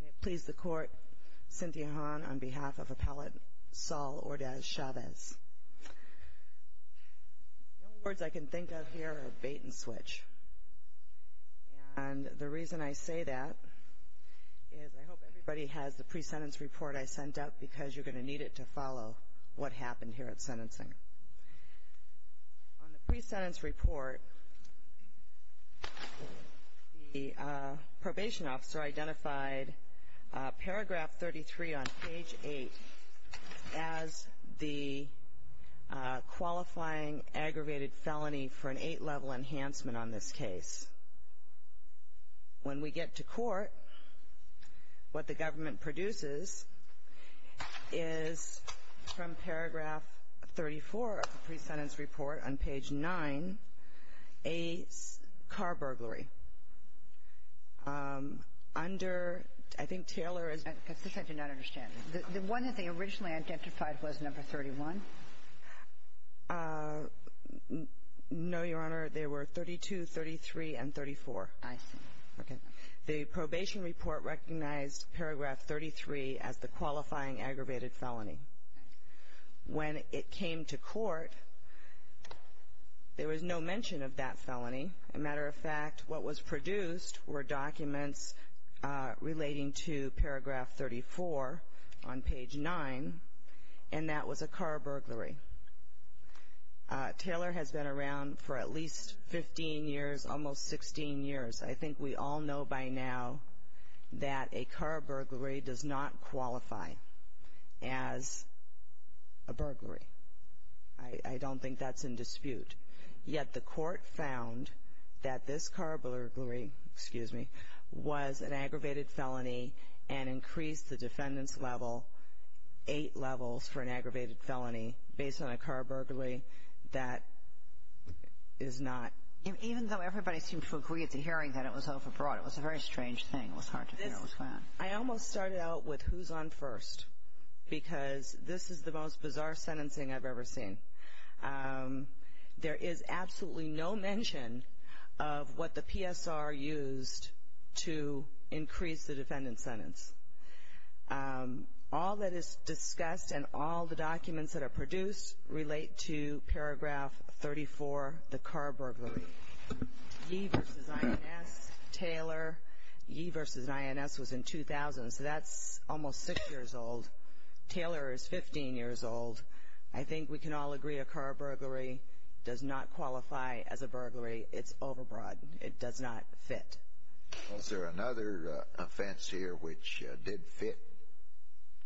May it please the Court, Cynthia Hahn on behalf of Appellate Saul Ordaz-Chavez. The only words I can think of here are bait and switch. And the reason I say that is I hope everybody has the pre-sentence report I sent out because you're going to need it to follow what happened here at sentencing. On the pre-sentence report, the probation officer identified paragraph 33 on page 8 as the qualifying aggravated felony for an 8-level enhancement on this case. When we get to court, what the government produces is from paragraph 34 of the pre-sentence report on page 9 a car burglary. Under – I think Taylor is – I'm sorry, I did not understand. The one that they originally identified was number 31? No, Your Honor. They were 32, 33, and 34. I see. Okay. The probation report recognized paragraph 33 as the qualifying aggravated felony. I see. When it came to court, there was no mention of that felony. As a matter of fact, what was produced were documents relating to paragraph 34 on page 9, and that was a car burglary. Taylor has been around for at least 15 years, almost 16 years. I think we all know by now that a car burglary does not qualify as a burglary. I don't think that's in dispute. Yet the court found that this car burglary – excuse me – was an aggravated felony and increased the defendant's level eight levels for an aggravated felony based on a car burglary. That is not – Even though everybody seemed to agree at the hearing that it was overbroad, it was a very strange thing. It was hard to figure out what's going on. I almost started out with who's on first because this is the most bizarre sentencing I've ever seen. There is absolutely no mention of what the PSR used to increase the defendant's sentence. All that is discussed and all the documents that are produced relate to paragraph 34, the car burglary. Yee versus INS, Taylor. Yee versus INS was in 2000, so that's almost six years old. Taylor is 15 years old. I think we can all agree a car burglary does not qualify as a burglary. It's overbroad. It does not fit. Is there another offense here which did fit?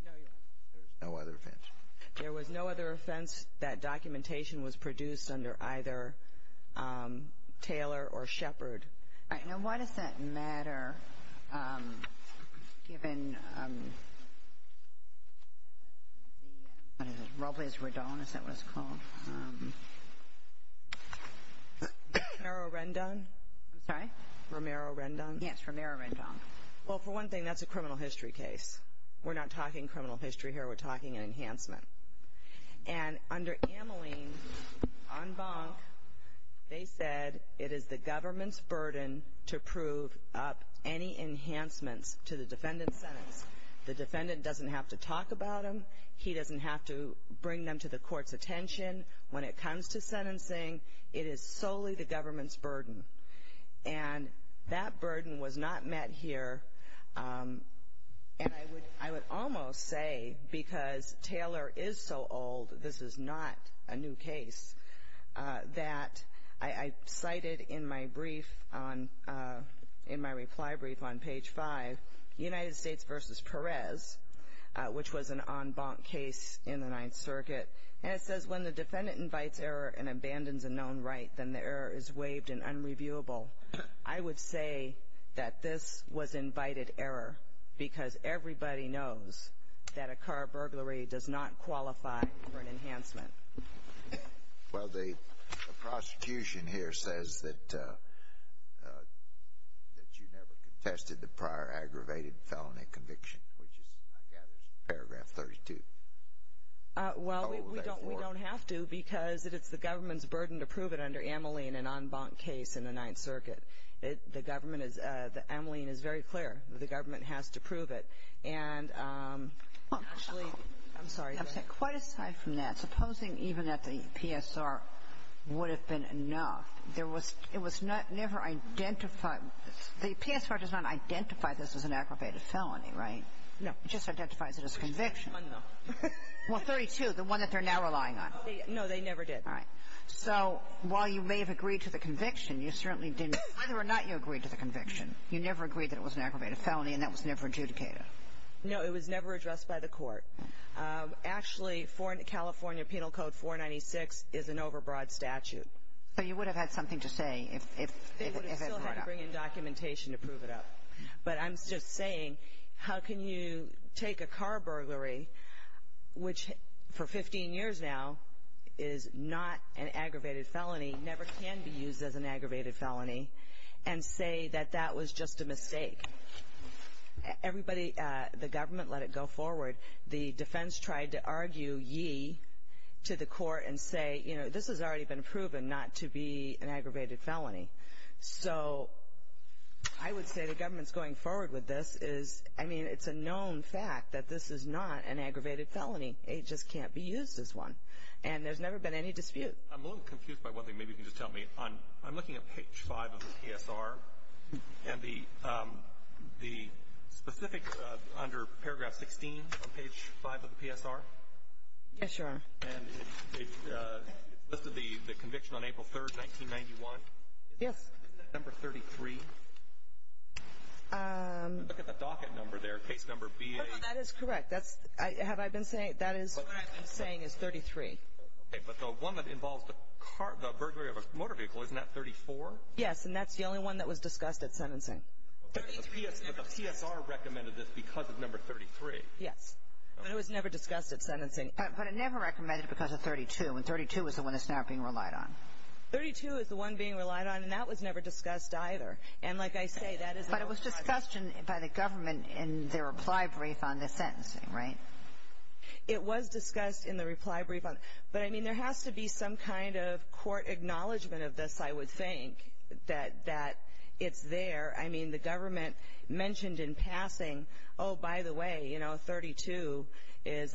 No, Your Honor. There's no other offense? There was no other offense. That documentation was produced under either Taylor or Shepard. All right. Now, why does that matter given the, what is it, Robles-Rodon, is that what it's called? Romero-Rendon? I'm sorry? Romero-Rendon? Yes, Romero-Rendon. Well, for one thing, that's a criminal history case. We're not talking criminal history here. We're talking an enhancement. And under Ameline, en banc, they said it is the government's burden to prove up any enhancements to the defendant's sentence. The defendant doesn't have to talk about them. He doesn't have to bring them to the court's attention when it comes to sentencing. It is solely the government's burden. And that burden was not met here. And I would almost say because Taylor is so old, this is not a new case, that I cited in my brief on, in my reply brief on page 5, United States v. Perez, which was an en banc case in the Ninth Circuit. And it says when the defendant invites error and abandons a known right, then the error is waived and unreviewable. I would say that this was invited error because everybody knows that a car burglary does not qualify for an enhancement. Well, the prosecution here says that you never contested the prior aggravated felony conviction, which I gather is paragraph 32. Well, we don't have to because it's the government's burden to prove it under Ameline, an en banc case in the Ninth Circuit. The government is, Ameline is very clear. The government has to prove it. And actually, I'm sorry. Quite aside from that, supposing even that the PSR would have been enough, there was, it was never identified. The PSR does not identify this as an aggravated felony, right? It just identifies it as a conviction. No. Well, 32, the one that they're now relying on. No, they never did. All right. So while you may have agreed to the conviction, you certainly didn't, whether or not you agreed to the conviction, you never agreed that it was an aggravated felony and that was never adjudicated. No, it was never addressed by the court. Actually, California Penal Code 496 is an overbroad statute. So you would have had something to say if it weren't up. They would have still had to bring in documentation to prove it up. But I'm just saying, how can you take a car burglary, which for 15 years now is not an aggravated felony, never can be used as an aggravated felony, and say that that was just a mistake? Everybody, the government let it go forward. The defense tried to argue ye to the court and say, you know, this has already been proven not to be an aggravated felony. So I would say the government's going forward with this is, I mean, it's a known fact that this is not an aggravated felony. It just can't be used as one. And there's never been any dispute. I'm a little confused by one thing. Maybe you can just tell me. I'm looking at page 5 of the PSR, and the specific under paragraph 16 on page 5 of the PSR. Yes, Your Honor. And it's listed the conviction on April 3, 1991. Yes. Isn't that number 33? Look at the docket number there, case number BA. That is correct. That is what I'm saying is 33. Okay, but the one that involves the burglary of a motor vehicle, isn't that 34? Yes, and that's the only one that was discussed at sentencing. But the PSR recommended this because of number 33. Yes, but it was never discussed at sentencing. But it never recommended it because of 32. And 32 is the one that's not being relied on. 32 is the one being relied on, and that was never discussed either. And like I say, that is a known fact. But it was discussed by the government in their reply brief on the sentencing, right? It was discussed in the reply brief. But, I mean, there has to be some kind of court acknowledgement of this, I would think, that it's there. I mean, the government mentioned in passing, oh, by the way, you know, 32 is,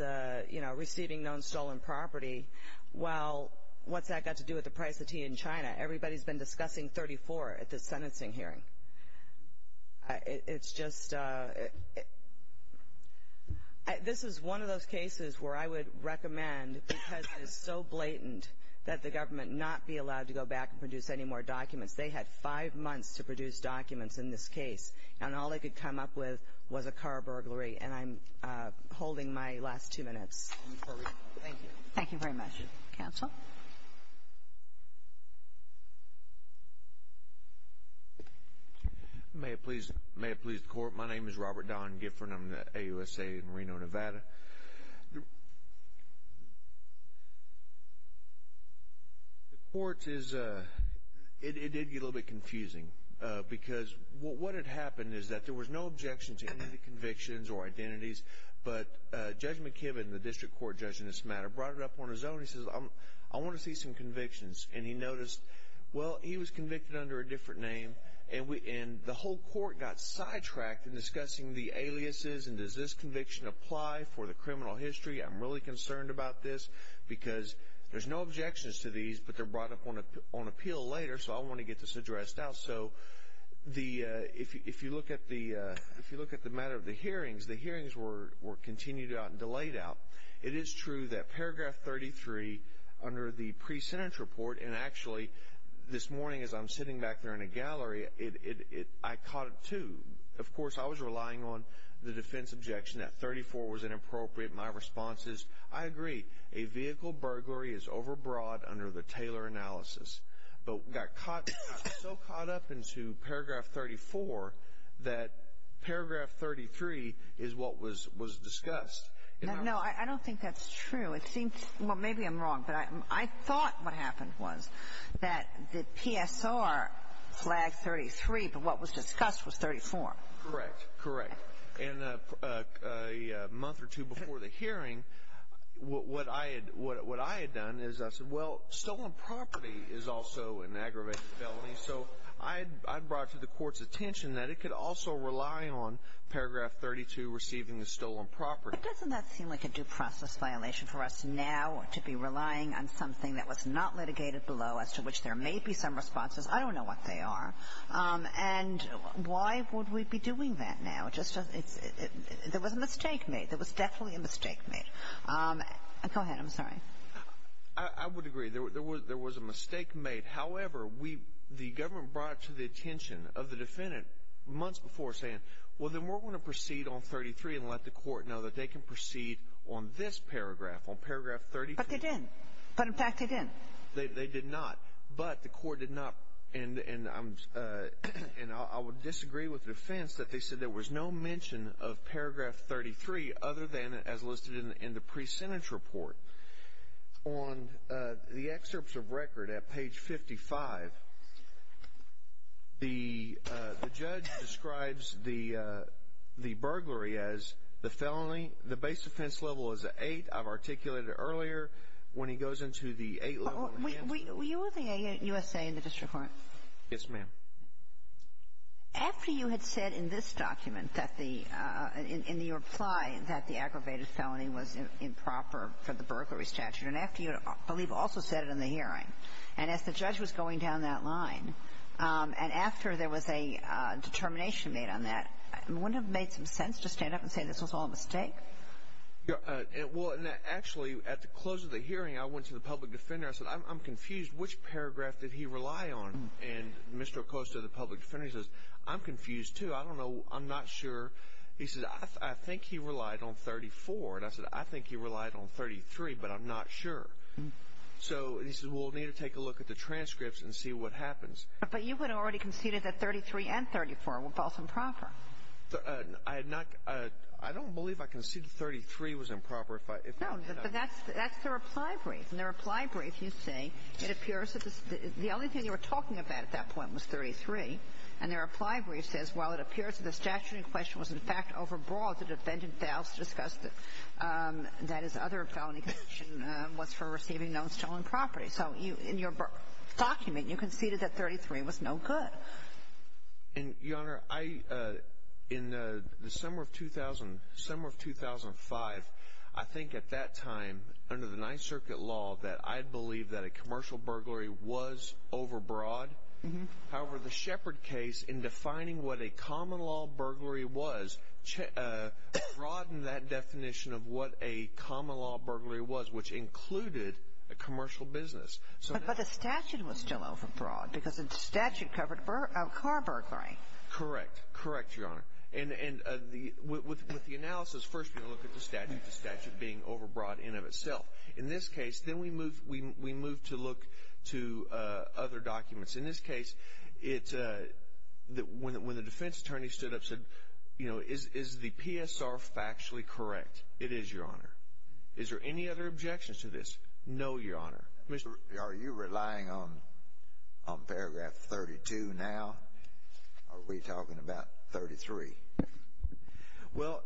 you know, receiving known stolen property. Well, what's that got to do with the price of tea in China? Everybody's been discussing 34 at this sentencing hearing. It's just, this is one of those cases where I would recommend, because it is so blatant, that the government not be allowed to go back and produce any more documents. They had five months to produce documents in this case, and all they could come up with was a car burglary. And I'm holding my last two minutes. Thank you. Thank you very much. Counsel? May it please the Court. My name is Robert Don Gifford. I'm with the AUSA in Reno, Nevada. The court is, it did get a little bit confusing. Because what had happened is that there was no objection to any of the convictions or identities. But Judge McKibben, the district court judge in this matter, brought it up on his own. He says, I want to see some convictions. And he noticed, well, he was convicted under a different name. And the whole court got sidetracked in discussing the aliases and does this conviction apply for the criminal history. I'm really concerned about this. Because there's no objections to these, but they're brought up on appeal later. So I want to get this addressed out. So if you look at the matter of the hearings, the hearings were continued out and delayed out. It is true that paragraph 33 under the pre-sentence report, and actually this morning as I'm sitting back there in a gallery, I caught it too. Of course, I was relying on the defense objection that 34 was inappropriate. My response is, I agree. A vehicle burglary is overbroad under the Taylor analysis. But got so caught up into paragraph 34 that paragraph 33 is what was discussed. No, I don't think that's true. Well, maybe I'm wrong, but I thought what happened was that the PSR flagged 33, but what was discussed was 34. Correct, correct. And a month or two before the hearing, what I had done is I said, well, stolen property is also an aggravated felony. So I brought to the court's attention that it could also rely on paragraph 32 receiving a stolen property. But doesn't that seem like a due process violation for us now to be relying on something that was not litigated below, as to which there may be some responses? I don't know what they are. And why would we be doing that now? There was a mistake made. There was definitely a mistake made. Go ahead. I'm sorry. I would agree. There was a mistake made. However, the government brought it to the attention of the defendant months before saying, well, then we're going to proceed on 33 and let the court know that they can proceed on this paragraph, on paragraph 32. But they didn't. But, in fact, they didn't. They did not. But the court did not. And I would disagree with the defense that they said there was no mention of paragraph 33 other than as listed in the pre-sentence report. On the excerpts of record at page 55, the judge describes the burglary as the felony. The base defense level is an 8. I've articulated it earlier. When he goes into the 8 level and hands it to you. Were you with the USA in the district court? Yes, ma'am. After you had said in this document that the ‑‑ in your reply that the aggravated felony was improper for the burglary statute, and after you, I believe, also said it in the hearing, and as the judge was going down that line, and after there was a determination made on that, wouldn't it have made some sense to stand up and say this was all a mistake? Well, actually, at the close of the hearing, I went to the public defender. I said, I'm confused. Which paragraph did he rely on? And Mr. Acosta, the public defender, says, I'm confused, too. I don't know. I'm not sure. He says, I think he relied on 34. And I said, I think he relied on 33, but I'm not sure. So he says, well, we'll need to take a look at the transcripts and see what happens. But you had already conceded that 33 and 34 were both improper. I had not ‑‑ I don't believe I conceded 33 was improper. No, but that's the reply brief. In the reply brief, you say, it appears that the only thing you were talking about at that point was 33. And their reply brief says, well, it appears that the statute in question was, in fact, overbroad. The defendant fails to discuss that his other felony conviction was for receiving known stolen property. So in your document, you conceded that 33 was no good. Your Honor, in the summer of 2005, I think at that time, under the Ninth Circuit law, that I believed that a commercial burglary was overbroad. However, the Shepard case, in defining what a common law burglary was, broadened that definition of what a common law burglary was, which included a commercial business. But the statute was still overbroad because the statute covered car burglary. Correct. Correct, Your Honor. And with the analysis, first we're going to look at the statute, the statute being overbroad in of itself. In this case, then we move to look to other documents. In this case, when the defense attorney stood up and said, you know, is the PSR factually correct? It is, Your Honor. Is there any other objections to this? No, Your Honor. Are you relying on paragraph 32 now? Are we talking about 33? Well,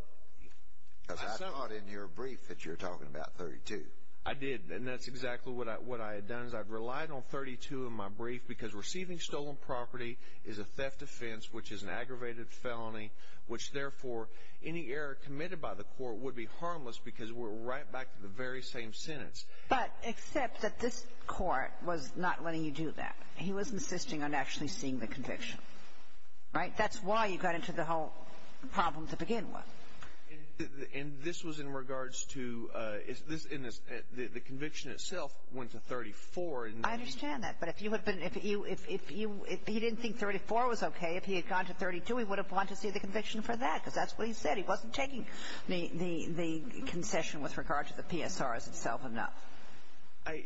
I saw it in your brief that you're talking about 32. I did, and that's exactly what I had done, is I relied on 32 in my brief because receiving stolen property is a theft offense, which is an aggravated felony, which therefore any error committed by the court would be harmless because we're right back to the very same sentence. But except that this court was not letting you do that. He wasn't insisting on actually seeing the conviction. Right? That's why you got into the whole problem to begin with. And this was in regards to the conviction itself went to 34. I understand that. But if you had been – if you – if he didn't think 34 was okay, if he had gone to 32, he would have gone to see the conviction for that because that's what he said. He wasn't taking the concession with regard to the PSR as itself enough.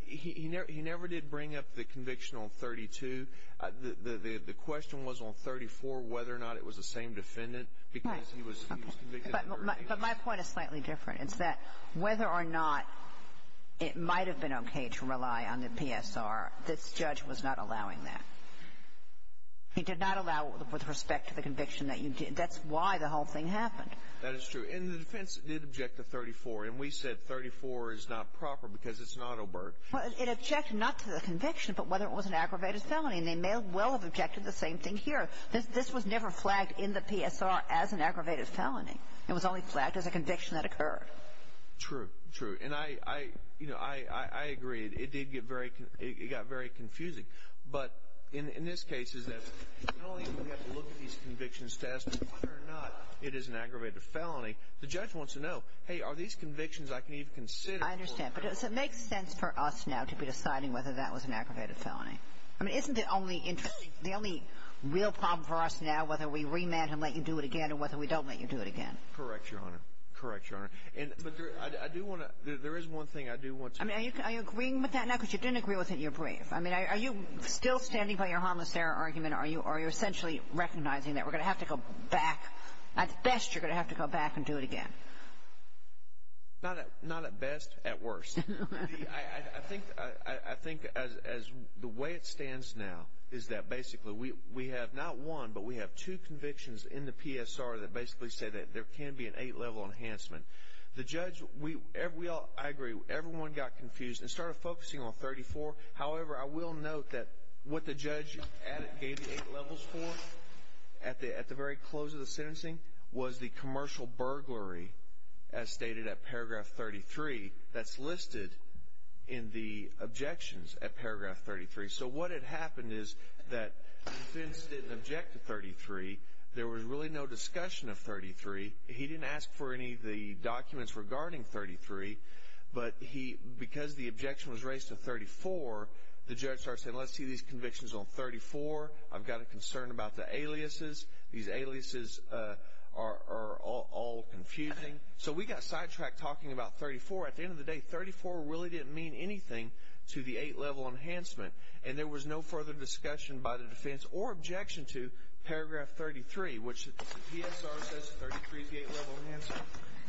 He never did bring up the conviction on 32. The question was on 34 whether or not it was the same defendant because he was convicted on 32. But my point is slightly different. It's that whether or not it might have been okay to rely on the PSR, this judge was not allowing that. He did not allow it with respect to the conviction that you did. That's why the whole thing happened. That is true. And the defense did object to 34. And we said 34 is not proper because it's not OBERT. Well, it objected not to the conviction but whether it was an aggravated felony. And they may well have objected to the same thing here. This was never flagged in the PSR as an aggravated felony. It was only flagged as a conviction that occurred. True, true. And I – you know, I agree. It did get very – it got very confusing. But in this case, it's that not only do we have to look at these convictions to ask whether or not it is an aggravated felony, the judge wants to know, hey, are these convictions I can even consider? I understand. But does it make sense for us now to be deciding whether that was an aggravated felony? I mean, isn't the only real problem for us now whether we remand him, let you do it again, or whether we don't let you do it again? Correct, Your Honor. Correct, Your Honor. But I do want to – there is one thing I do want to – I mean, are you agreeing with that now? Because you didn't agree with it and you're brave. I mean, are you still standing by your harmless error argument, or are you essentially recognizing that we're going to have to go back? At best, you're going to have to go back and do it again. Not at best. At worst. I think as the way it stands now is that basically we have not one, but we have two convictions in the PSR that basically say that there can be an eight-level enhancement. The judge – we all – I agree. Everyone got confused and started focusing on 34. However, I will note that what the judge gave the eight levels for at the very close of the sentencing was the commercial burglary as stated at paragraph 33 that's listed in the objections at paragraph 33. So what had happened is that the defense didn't object to 33. There was really no discussion of 33. He didn't ask for any of the documents regarding 33. But because the objection was raised to 34, the judge started saying, let's see these convictions on 34. I've got a concern about the aliases. These aliases are all confusing. So we got sidetracked talking about 34. At the end of the day, 34 really didn't mean anything to the eight-level enhancement, and there was no further discussion by the defense or objection to paragraph 33, which the PSR says 33 is the eight-level enhancement.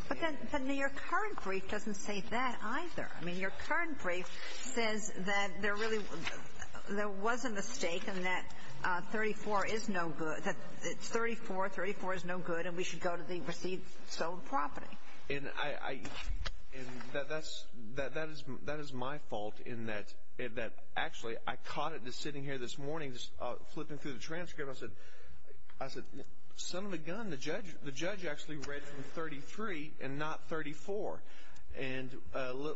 But then your current brief doesn't say that either. I mean, your current brief says that there really – there was a mistake and that 34 is no good – that it's 34, 34 is no good, and we should go to the received, sold property. And I – and that's – that is my fault in that actually I caught it just sitting here this morning, just flipping through the transcript. And I said, I said, son of a gun, the judge actually read from 33 and not 34. And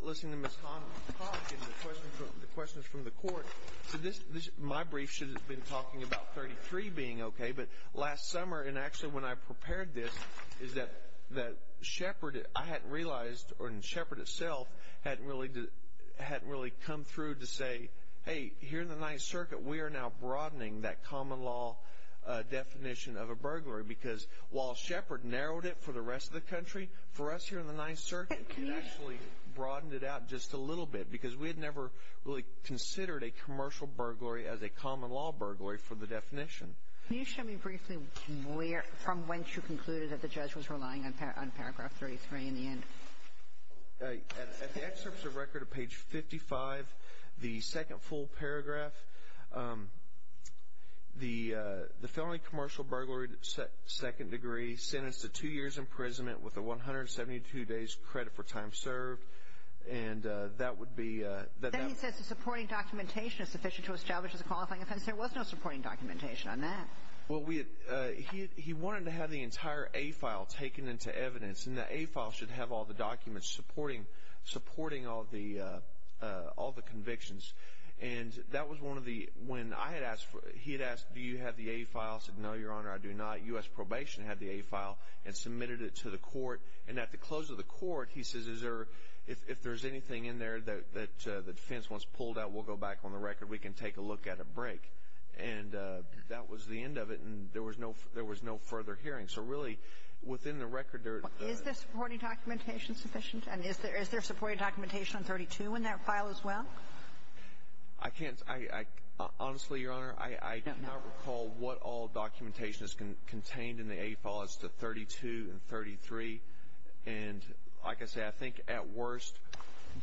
listening to Ms. Hahn talk and the questions from the court, said this – my brief should have been talking about 33 being okay. But last summer, and actually when I prepared this, is that Shepard – I hadn't realized – and Shepard itself hadn't really – hadn't really come through to say, hey, here in the Ninth Circuit, we are now broadening that common law definition of a burglary because while Shepard narrowed it for the rest of the country, for us here in the Ninth Circuit, we actually broadened it out just a little bit because we had never really considered a commercial burglary as a common law burglary for the definition. Can you show me briefly where – from whence you concluded that the judge was relying on paragraph 33 in the end? At the excerpts of record of page 55, the second full paragraph, the felony commercial burglary, second degree, sentenced to two years imprisonment with a 172 days credit for time served, and that would be – Then he says the supporting documentation is sufficient to establish as a qualifying offense. There was no supporting documentation on that. Well, we – he wanted to have the entire A file taken into evidence, and the A file should have all the documents supporting all the convictions. And that was one of the – when I had asked – he had asked, do you have the A file? I said, no, Your Honor, I do not. U.S. Probation had the A file and submitted it to the court. And at the close of the court, he says, is there – if there's anything in there that the defense wants pulled out, we'll go back on the record. We can take a look at it and break. And that was the end of it, and there was no further hearing. So really, within the record, there – Is the supporting documentation sufficient? And is there supporting documentation on 32 in that file as well? I can't – honestly, Your Honor, I cannot recall what all documentation is contained in the A file as to 32 and 33. And like I say, I think at worst –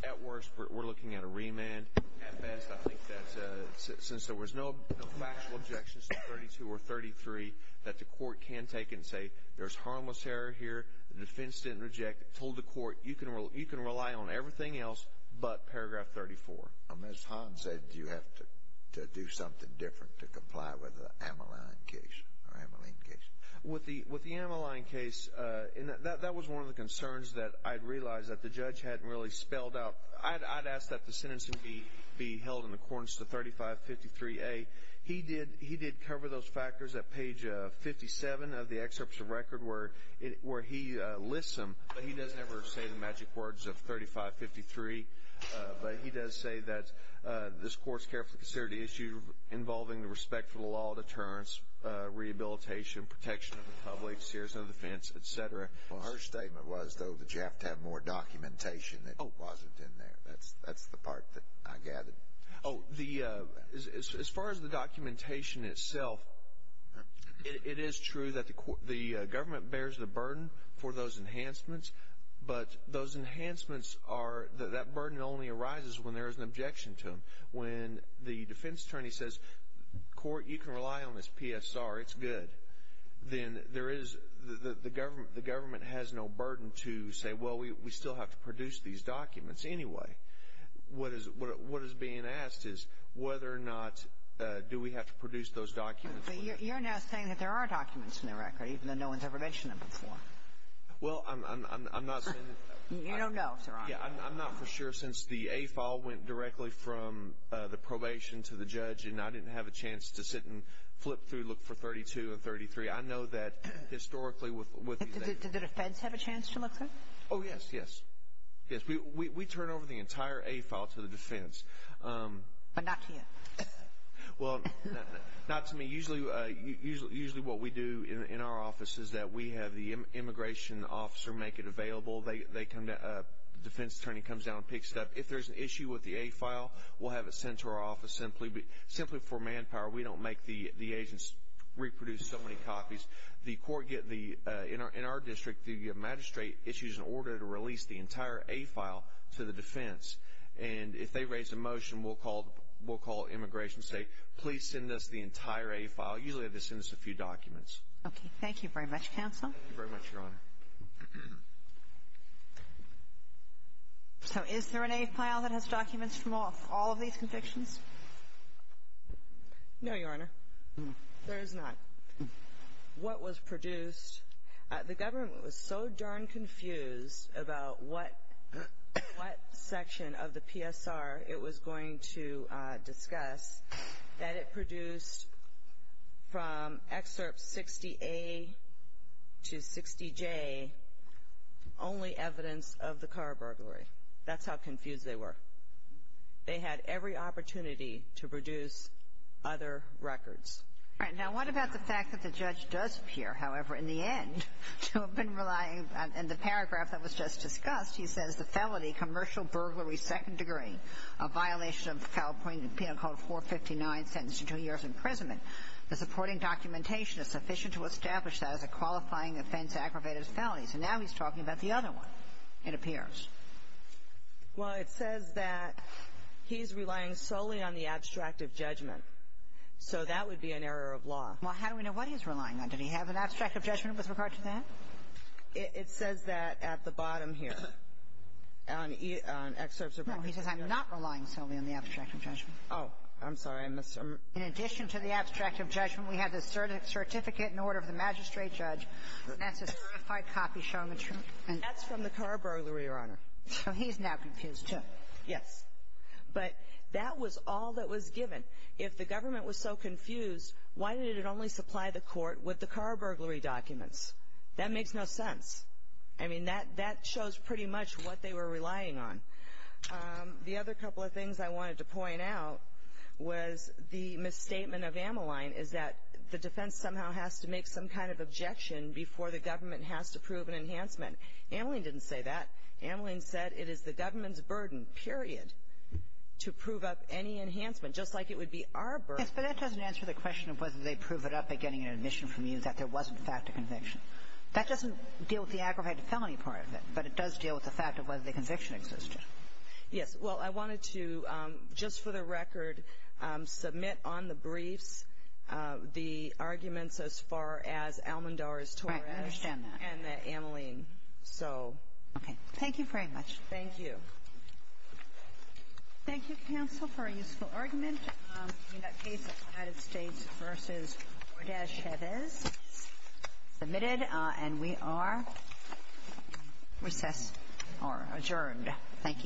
at worst, we're looking at a remand. And at best, I think that since there was no factual objections to 32 or 33, that the court can take and say there's harmless error here, the defense didn't reject it, told the court, you can rely on everything else but paragraph 34. Ms. Hahn said you have to do something different to comply with the Amaline case. With the Amaline case, that was one of the concerns that I realized that the judge hadn't really spelled out. I'd ask that the sentencing be held in accordance to 3553A. He did cover those factors at page 57 of the excerpt of the record where he lists them, but he doesn't ever say the magic words of 3553. But he does say that this court's carefully considered the issue involving the respect for the law, deterrence, rehabilitation, protection of the public, seers, and defense, et cetera. Well, her statement was, though, that you have to have more documentation that wasn't in there. That's the part that I gathered. Oh, as far as the documentation itself, it is true that the government bears the burden for those enhancements, but those enhancements are – that burden only arises when there is an objection to them. When the defense attorney says, court, you can rely on this PSR, it's good, then there is – the government has no burden to say, well, we still have to produce these documents anyway. What is being asked is whether or not do we have to produce those documents. But you're now saying that there are documents in the record, even though no one's ever mentioned them before. Well, I'm not saying that – You don't know if they're on there. Yeah, I'm not for sure since the A file went directly from the probation to the judge, and I didn't have a chance to sit and flip through, look for 32 and 33. I know that historically with – Did the defense have a chance to look through? Oh, yes, yes, yes. We turn over the entire A file to the defense. But not to you. Well, not to me. Usually what we do in our office is that we have the immigration officer make it available. They come to – the defense attorney comes down and picks it up. If there's an issue with the A file, we'll have it sent to our office simply for manpower. We don't make the agents reproduce so many copies. In our district, the magistrate issues an order to release the entire A file to the defense. And if they raise a motion, we'll call Immigration and say, please send us the entire A file. Usually they send us a few documents. Okay. Thank you very much, counsel. Thank you very much, Your Honor. So is there an A file that has documents from all of these convictions? No, Your Honor. There is not. What was produced – the government was so darn confused about what section of the PSR it was going to discuss that it produced from excerpt 60A to 60J only evidence of the car burglary. That's how confused they were. They had every opportunity to produce other records. All right. Now what about the fact that the judge does appear, however, in the end to have been relying – in the paragraph that was just discussed, he says, the felony commercial burglary second degree, a violation of California Penal Code 459, sentenced to two years' imprisonment. The supporting documentation is sufficient to establish that as a qualifying offense aggravated as a felony. So now he's talking about the other one, it appears. Well, it says that he's relying solely on the abstract of judgment. So that would be an error of law. Well, how do we know what he's relying on? Did he have an abstract of judgment with regard to that? It says that at the bottom here, on excerpts about – No. He says, I'm not relying solely on the abstract of judgment. Oh. I'm sorry. I missed – In addition to the abstract of judgment, we have the certificate in order of the magistrate judge. That's a certified copy showing the – That's from the car burglary, Your Honor. So he's now confused, too. Yes. But that was all that was given. If the government was so confused, why did it only supply the court with the car burglary documents? That makes no sense. I mean, that shows pretty much what they were relying on. The other couple of things I wanted to point out was the misstatement of Ameline is that the defense somehow has to make some kind of objection before the government has to prove an enhancement. Ameline didn't say that. Ameline said it is the government's burden, period, to prove up any enhancement, just like it would be our burden. Yes. But that doesn't answer the question of whether they prove it up by getting an admission from you that there was, in fact, a conviction. That doesn't deal with the aggravated felony part of it, but it does deal with the fact of whether the conviction existed. Yes. Well, I wanted to, just for the record, submit on the briefs the arguments as far as Almendar's, Torres' Right. I understand that. And Ameline. So. Okay. Thank you very much. Thank you. Thank you, counsel, for a useful argument. We have a case of United States v. Gordez-Chavez submitted, and we are recessed, or adjourned. Thank you.